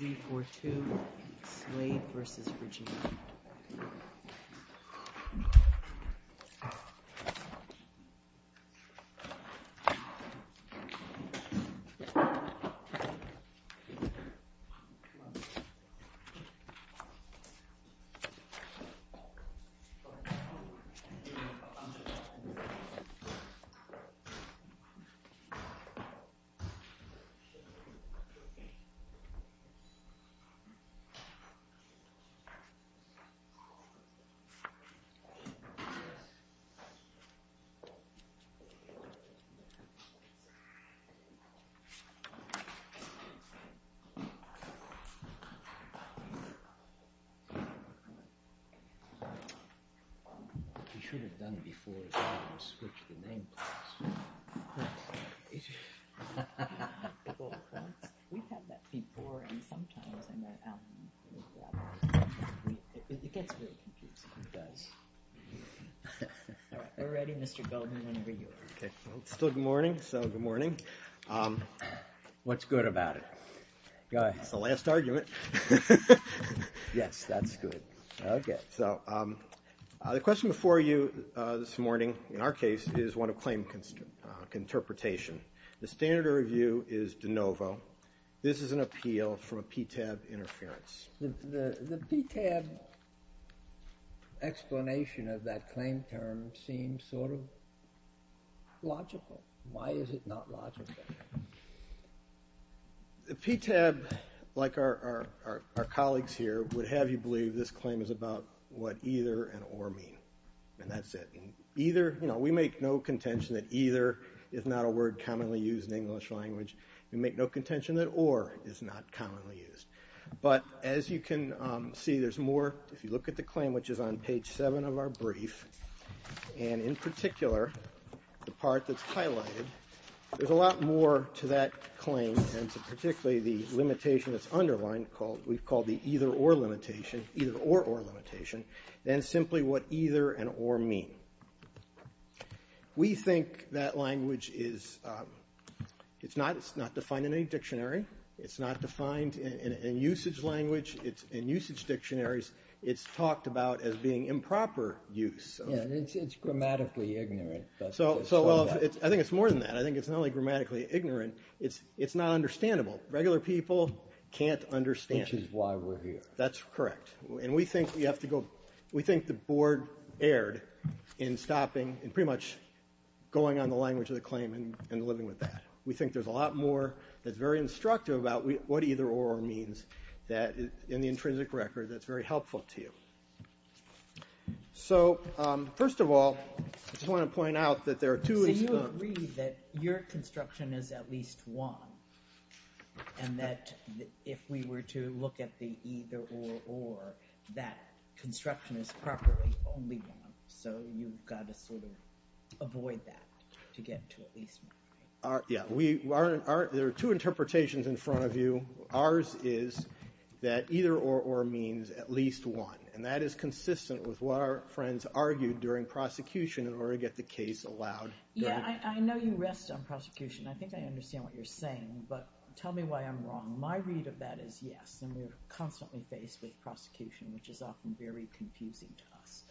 3-4-2, Slade versus Virginia. 3-4-2, Slade versus Virginia, 3-4-2, Slade versus Virginia, 3-4-2, Slade versus Virginia. Okay, still good morning, so good morning. What's good about it? Go ahead. It's the last argument. Yes, that's good. Okay, so the question before you this morning, in our case, is one of claim interpretation. The standard of review is de novo. This is an appeal for a PTAB interference. The PTAB explanation of that claim term seems sort of logical. Why is it not logical? The PTAB, like our colleagues here, would have you believe this claim is about what either and or mean, and that's it. We make no contention that either is not a word commonly used in the English language. We make no contention that or is not commonly used. But as you can see, there's more, if you look at the claim, which is on page 7 of our brief, and in particular, the part that's highlighted, there's a lot more to that claim, and particularly the limitation that's underlined, we've called the either or limitation, either or or limitation, than simply what either and or mean. We think that language is, it's not defined in any dictionary. It's not defined in usage language, in usage dictionaries. It's talked about as being improper use. Yeah, it's grammatically ignorant. So, well, I think it's more than that. I think it's not only grammatically ignorant, it's not understandable. Regular people can't understand it. Which is why we're here. That's correct. And we think we have to go, we think the board erred in stopping, in pretty much going on the language of the claim and living with that. We think there's a lot more that's very instructive about what either or means that, in the intrinsic record, that's very helpful to you. So, first of all, I just want to point out that there are two. So you agree that your construction is at least one, and that if we were to look at the either or, or, that construction is properly only one. So you've got to sort of avoid that to get to at least one, right? Yeah, there are two interpretations in front of you. Ours is that either or, or means at least one. And that is consistent with what our friends argued during prosecution in order to get the case allowed. Yeah, I know you rest on prosecution. I think I understand what you're saying, but tell me why I'm wrong. My read of that is yes. And we're constantly faced with prosecution, which is often very confusing to us.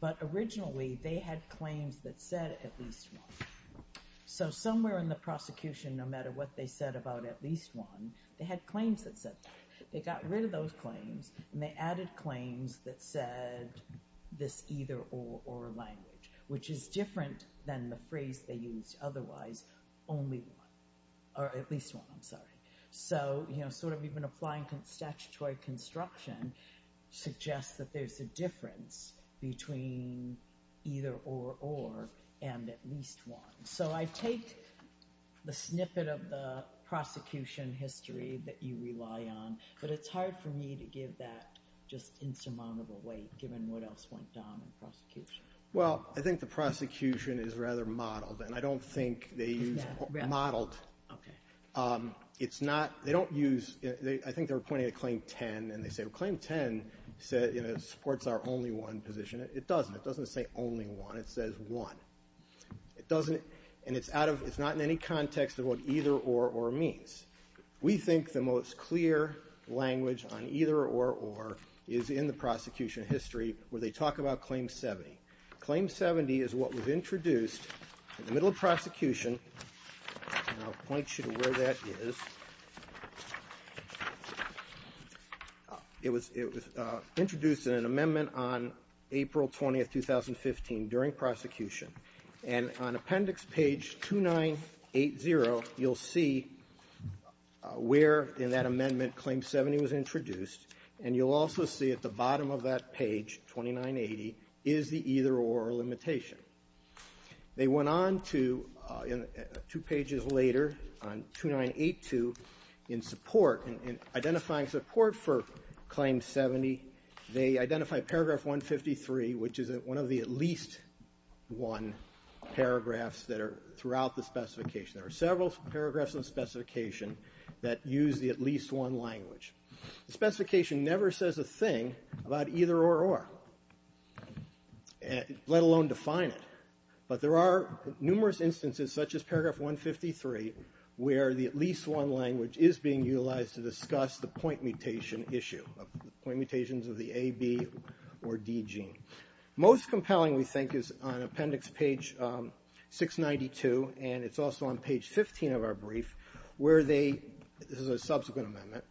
But originally, they had claims that said at least one. So somewhere in the prosecution, no matter what they said about at least one, they had claims that said that. They got rid of those claims, and they added claims that said this either or, or language, which is different than the phrase they used otherwise, only one, or at least one, I'm sorry. So sort of even applying statutory construction suggests that there's a difference between either or, or, and at least one. So I take the snippet of the prosecution history that you rely on. But it's hard for me to give that just insurmountable weight, given what else went down in prosecution. Well, I think the prosecution is rather modeled. And I don't think they use modeled. It's not, they don't use, I think they were pointing to claim 10. And they say, well, claim 10 supports our only one position. It doesn't. It doesn't say only one. It says one. It doesn't, and it's out of, it's not in any context of what either or, or means. We think the most clear language on either or, or is in the prosecution history, where they talk about claim 70. Claim 70 is what was introduced in the middle of prosecution. And I'll point you to where that is. It was, it was introduced in an amendment on April 20th, 2015, during prosecution. And on appendix page 2980, you'll see where in that amendment claim 70 was introduced. And you'll also see at the bottom of that page, 2980, is the either or limitation. They went on to, two pages later, on 2982, in support, in identifying support for claim 70, they identified paragraph 153, which is one of the at least one paragraphs that are throughout the specification. There are several paragraphs in the specification that use the at least one language. The specification never says a thing about either or, or. And, let alone define it. But there are numerous instances, such as paragraph 153, where the at least one language is being utilized to discuss the point mutation issue. Point mutations of the A, B, or D gene. Most compelling, we think, is on appendix page 692, and it's also on page 15 of our brief, where they, this is a subsequent amendment,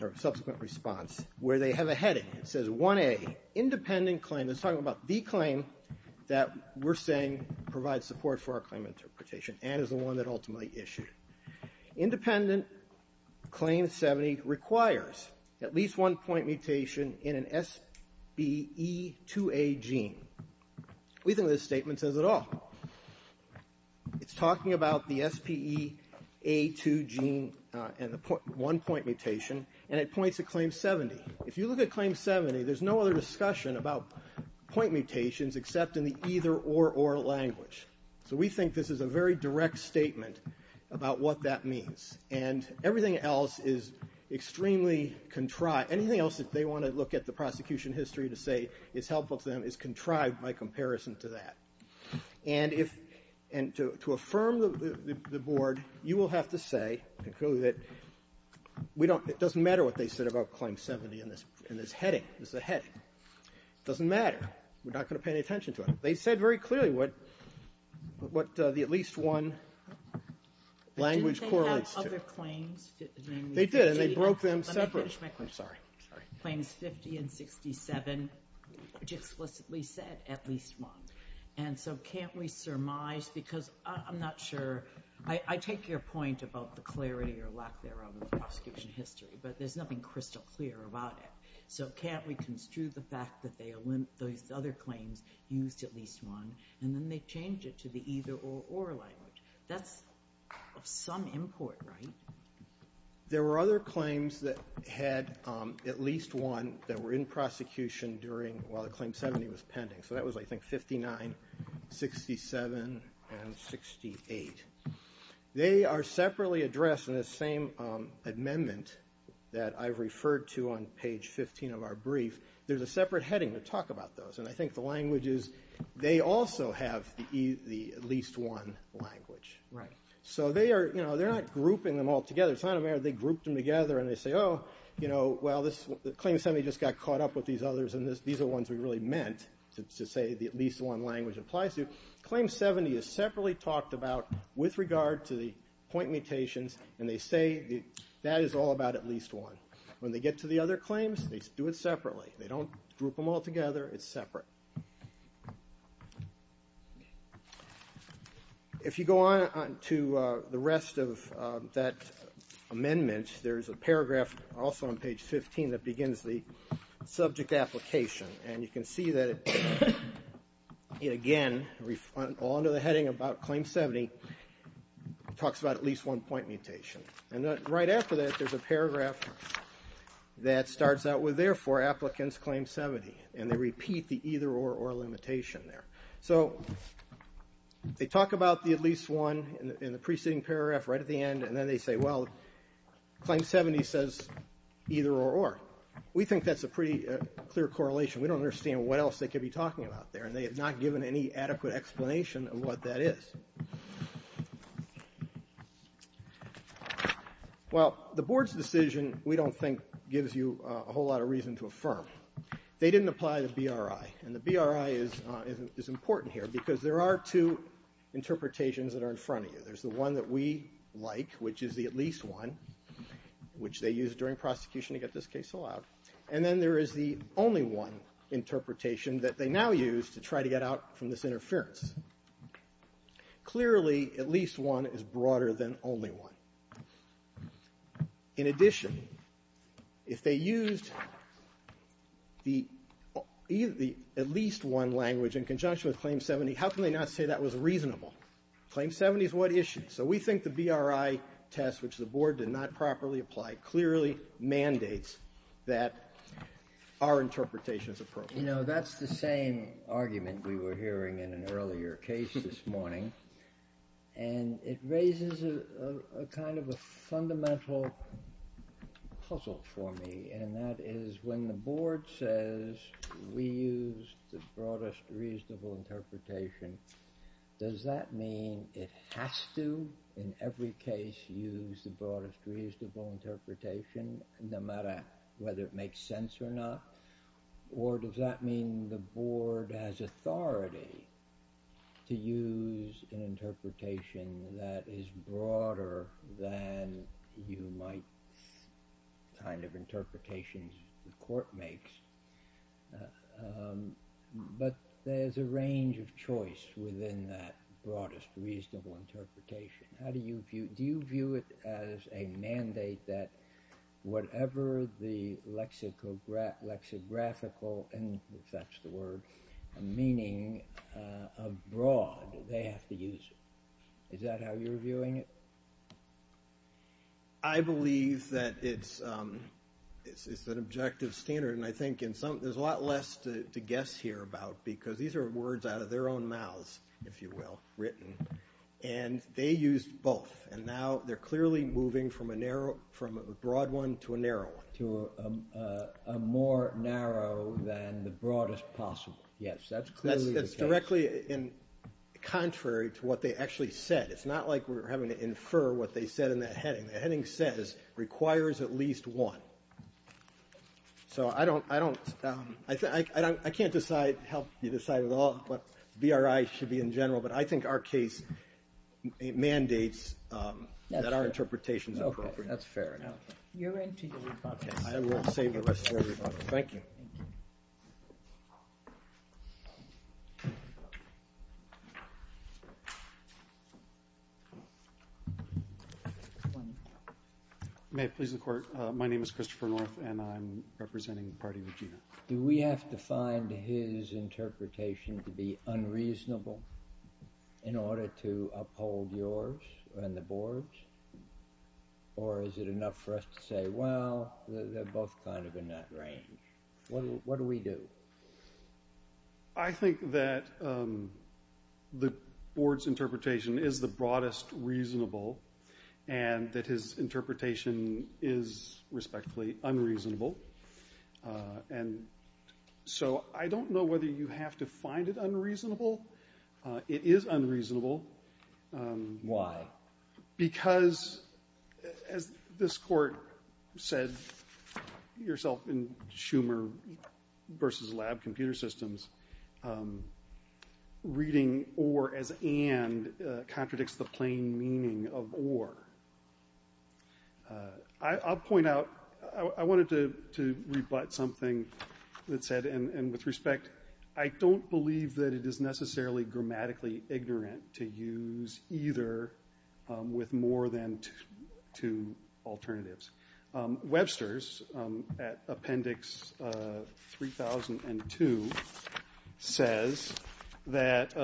or subsequent response, where they have a heading, it says 1A, independent claim, it's talking about the claim that we're saying provides support for our claim interpretation, and is the one that ultimately issued. Independent claim 70 requires at least one point mutation in an SBE2A gene. We think this statement says it all. It's talking about the SPEA2 gene and the one point mutation, and it points to claim 70. If you look at claim 70, there's no other discussion about point mutations except in the either or, or language. So we think this is a very direct statement about what that means. And everything else is extremely contrived. Anything else that they want to look at the prosecution history to say is helpful to them is contrived by comparison to that. And if, and to, to affirm the, the, the board, you will have to say, clearly that we don't, it doesn't matter what they said about claim 70 in this, in this heading, this is a heading. Doesn't matter. We're not going to pay any attention to it. They said very clearly what, what the at least one language correlates to. They did, and they broke them separate, I'm sorry, sorry. Claims 50 and 67, which explicitly said at least one. And so can't we surmise, because I'm not sure. I, I take your point about the clarity or lack thereof in the prosecution history, but there's nothing crystal clear about it. So can't we construe the fact that they, those other claims used at least one, and then they changed it to the either or, or language. That's of some import, right? There were other claims that had at least one that were in prosecution during, while the claim 70 was pending. So that was, I think, 59, 67, and 68. They are separately addressed in the same amendment that I've referred to on page 15 of our brief. There's a separate heading to talk about those. And I think the language is, they also have the, the at least one language. Right. So they are, you know, they're not grouping them all together. It's not a matter of they grouped them together and they say, oh, you know, well this, claim 70 just got caught up with these others and this, these are the ones we really meant to say the at least one language applies to. Claim 70 is separately talked about with regard to the point mutations, and they say that is all about at least one. When they get to the other claims, they do it separately. They don't group them all together, it's separate. If you go on to the rest of that amendment, there's a paragraph also on and you can see that it, again, all under the heading about claim 70, it talks about at least one point mutation. And right after that, there's a paragraph that starts out with, therefore, applicants claim 70. And they repeat the either or, or limitation there. So, they talk about the at least one in the preceding paragraph right at the end, and then they say, well, claim 70 says either or, or. We think that's a pretty clear correlation. We don't understand what else they could be talking about there, and they have not given any adequate explanation of what that is. Well, the board's decision, we don't think, gives you a whole lot of reason to affirm. They didn't apply the BRI, and the BRI is, is important here, because there are two interpretations that are in front of you. There's the one that we like, which is the at least one, which they use during prosecution to get this case allowed. And then there is the only one interpretation that they now use to try to get out from this interference. Clearly, at least one is broader than only one. In addition, if they used the, the at least one language in conjunction with claim 70, how can they not say that was reasonable? Claim 70 is what issue? So, we think the BRI test, which the board did not properly apply, clearly mandates that our interpretation is appropriate. You know, that's the same argument we were hearing in an earlier case this morning. And it raises a, a kind of a fundamental puzzle for me. And that is, when the board says, we used the broadest reasonable interpretation, does that mean it has to, in every case, use the broadest reasonable interpretation, no matter whether it makes sense or not? Or does that mean the board has authority to use an interpretation that is broader than you might kind of interpretations the court makes? But there's a range of choice within that broadest reasonable interpretation. How do you view, do you view it as a mandate that whatever the lexicograph, lexicographical, and if that's the word, meaning of broad, they have to use it. Is that how you're viewing it? I believe that it's, it's an objective standard. And I think in some, there's a lot less to, to guess here about. Because these are words out of their own mouths, if you will, written. And they used both. And now they're clearly moving from a narrow, from a broad one to a narrow one. To a, a, a more narrow than the broadest possible. Yes, that's clearly the case. That's, that's directly in, contrary to what they actually said. It's not like we're having to infer what they said in that heading. The heading says, requires at least one. So I don't, I don't I can't decide, help you decide at all. But BRI should be in general. But I think our case mandates that our interpretation is appropriate. That's fair enough. You're into your rebuttal. I will save the rest of the rebuttal. Thank you. One. May it please the court. My name is Christopher North and I'm representing the party of Gina. Do we have to find his interpretation to be unreasonable? In order to uphold yours and the board's? Or is it enough for us to say, well, they're both kind of in that range. What, what do we do? I think that the board's interpretation is the broadest reasonable. And that his interpretation is respectfully unreasonable. And so I don't know whether you have to find it unreasonable. It is unreasonable. Why? Because, as this court said, yourself in Schumer versus lab computer systems. Reading or as and contradicts the plain meaning of or. I, I'll point out, I, I wanted to, to rebut something that said, and, and with respect, I don't believe that it is necessarily grammatically ignorant to use either with more than two alternatives. Webster's at appendix 3002 says that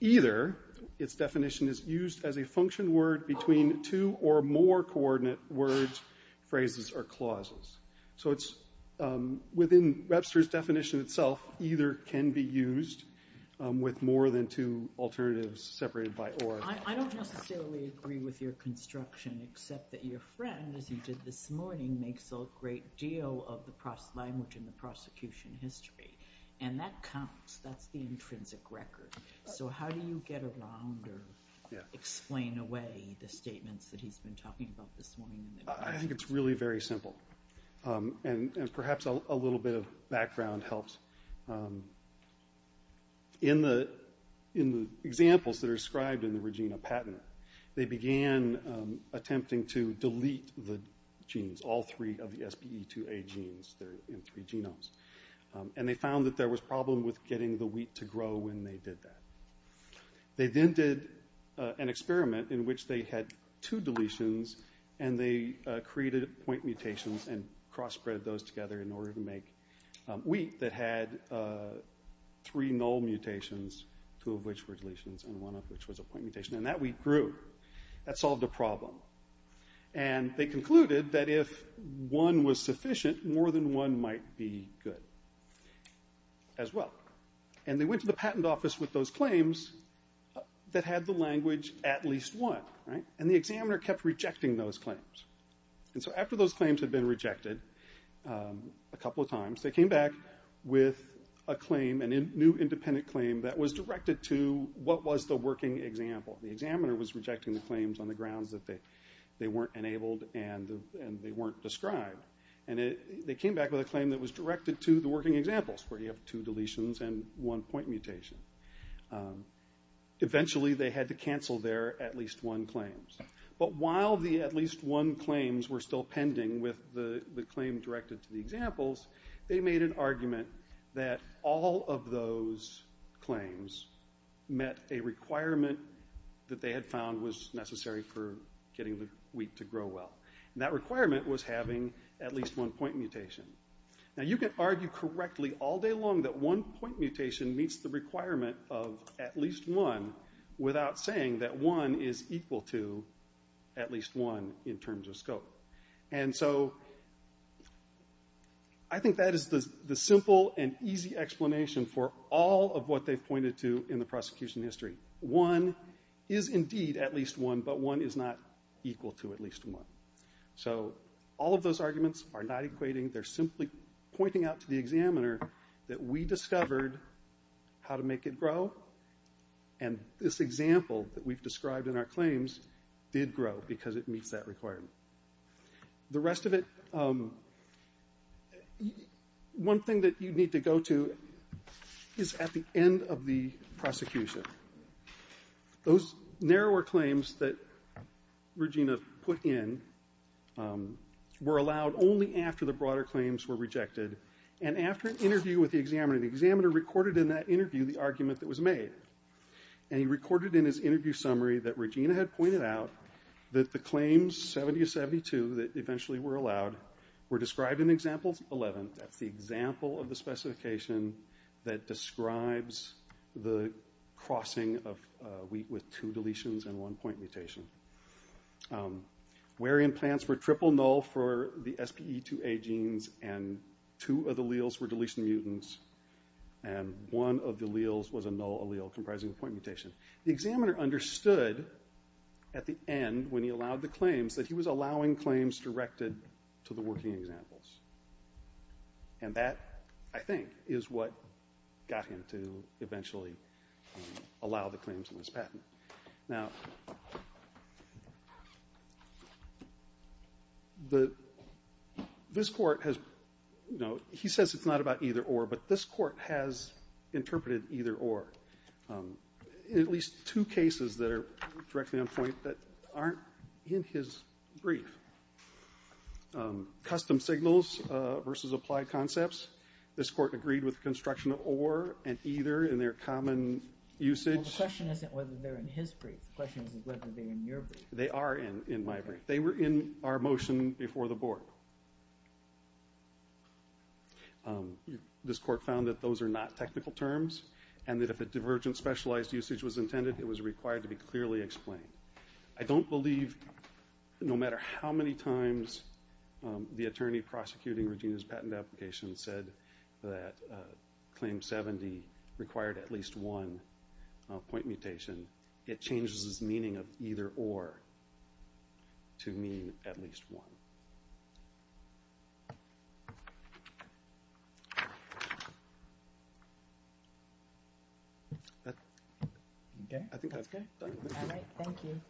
either its definition is used as a function word between two or more coordinate words, phrases, or clauses. So it's within Webster's definition itself, either can be used with more than two separated by or. I, I don't necessarily agree with your construction, except that your friend, as he did this morning, makes a great deal of the pro, language in the prosecution history. And that counts, that's the intrinsic record. So how do you get around or. Yeah. Explain away the statements that he's been talking about this morning. I think it's really very simple. And, and perhaps a, a little bit of background helps. In the, in the examples that are described in the Regina Pattener, they began attempting to delete the genes, all three of the SBE2A genes. They're in three genomes. And they found that there was a problem with getting the wheat to grow when they did that. They then did an experiment in which they had two deletions and they created point mutations and cross-bred those together in order to make wheat that had three null mutations, two of which were deletions and one of which was a point mutation. And that wheat grew. That solved a problem. And they concluded that if one was sufficient, more than one might be good. As well. And they went to the patent office with those claims that had the language at least one, right. And the examiner kept rejecting those claims. And so after those claims had been rejected a couple of times, they came back with a claim, a new independent claim that was directed to what was the working example. The examiner was rejecting the claims on the grounds that they, they weren't enabled and, and they weren't described. And it, they came back with a claim that was directed to the working examples, where you have two deletions and one point mutation. Eventually they had to cancel their at least one claim. But while the at least one claims were still pending with the, the claim directed to the examples, they made an argument that all of those claims met a requirement that they had found was necessary for getting the wheat to grow well. And that requirement was having at least one point mutation. Now you can argue correctly all day long that one point mutation meets the at least one in terms of scope. And so I think that is the, the simple and easy explanation for all of what they've pointed to in the prosecution history. One is indeed at least one, but one is not equal to at least one. So all of those arguments are not equating. They're simply pointing out to the examiner that we discovered how to make it grow. And this example that we've described in our claims did grow because it meets that requirement. The rest of it, one thing that you need to go to is at the end of the prosecution. Those narrower claims that Regina put in were allowed only after the broader claims were rejected. And after an interview with the examiner, the examiner recorded in that interview the argument that was made. And he recorded in his interview summary that Regina had pointed out that the claims, 70 to 72, that eventually were allowed were described in example 11. That's the example of the specification that describes the crossing of wheat with two deletions and one point mutation. Where implants were triple null for the SPE2A genes and two of the alleles were deletion mutants and one of the alleles was a null allele comprising a point mutation. The examiner understood at the end when he allowed the claims that he was allowing claims directed to the working examples. And that, I think, is what got him to eventually allow the claims in his patent. Now, this Court has, you know, he says it's not about either or, but this Court has interpreted either or in at least two cases that are directly on point that aren't in his brief. Custom signals versus applied concepts. This Court agreed with construction of or and either in their common usage. Well, the question isn't whether they're in his brief. The question is whether they're in your brief. They are in my brief. They were in our motion before the Board. This Court found that those are not technical terms and that if a divergent specialized usage was intended, it was required to be clearly explained. I don't believe, no matter how many times the attorney prosecuting Regina's patent application said that claim 70 required at least one point mutation, it changes his meaning of either or to mean at least one. I think that's good. Thank you.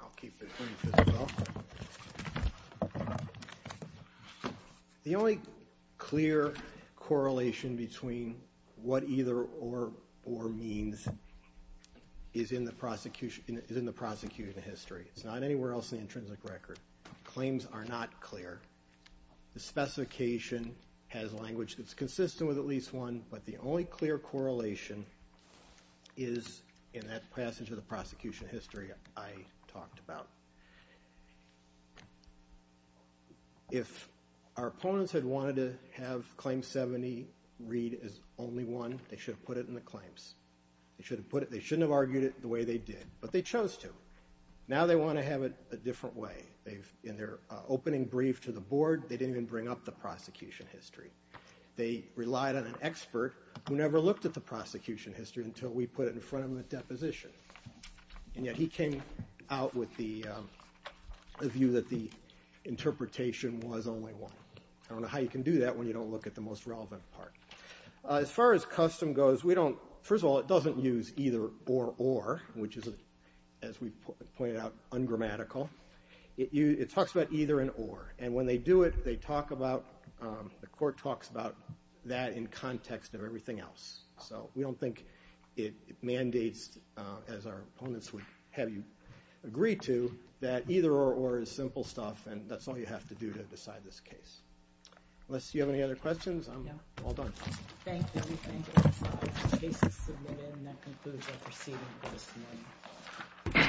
I'll keep this brief as well. The only clear correlation between what either or means is in the prosecuting history. It's not anywhere else in the intrinsic record. Claims are not clear. The specification has language that's consistent with at least one, but the only clear correlation is in that passage of the prosecution history I talked about. If our opponents had wanted to have claim 70 read as only one, they should have put it in the claims. They shouldn't have argued it the way they did, but they chose to. Now they want to have it a different way. In their opening brief to the board, they didn't even bring up the prosecution history. They relied on an expert who never looked at the prosecution history until we put it in front of them at deposition, and yet he came out with the view that the interpretation was only one. I don't know how you can do that when you don't look at the most relevant part. As far as custom goes, first of all, it doesn't use either or or, which is, as we pointed out, ungrammatical. It talks about either and or, and when they do it, they talk about, the court talks about that in context of everything else. So we don't think it mandates, as our opponents would have you agree to, that either or or is simple stuff, and that's all you have to do to decide this case. Unless you have any other questions, I'm all done. Thank you. Thank you. Case is submitted, and that concludes our proceeding testimony.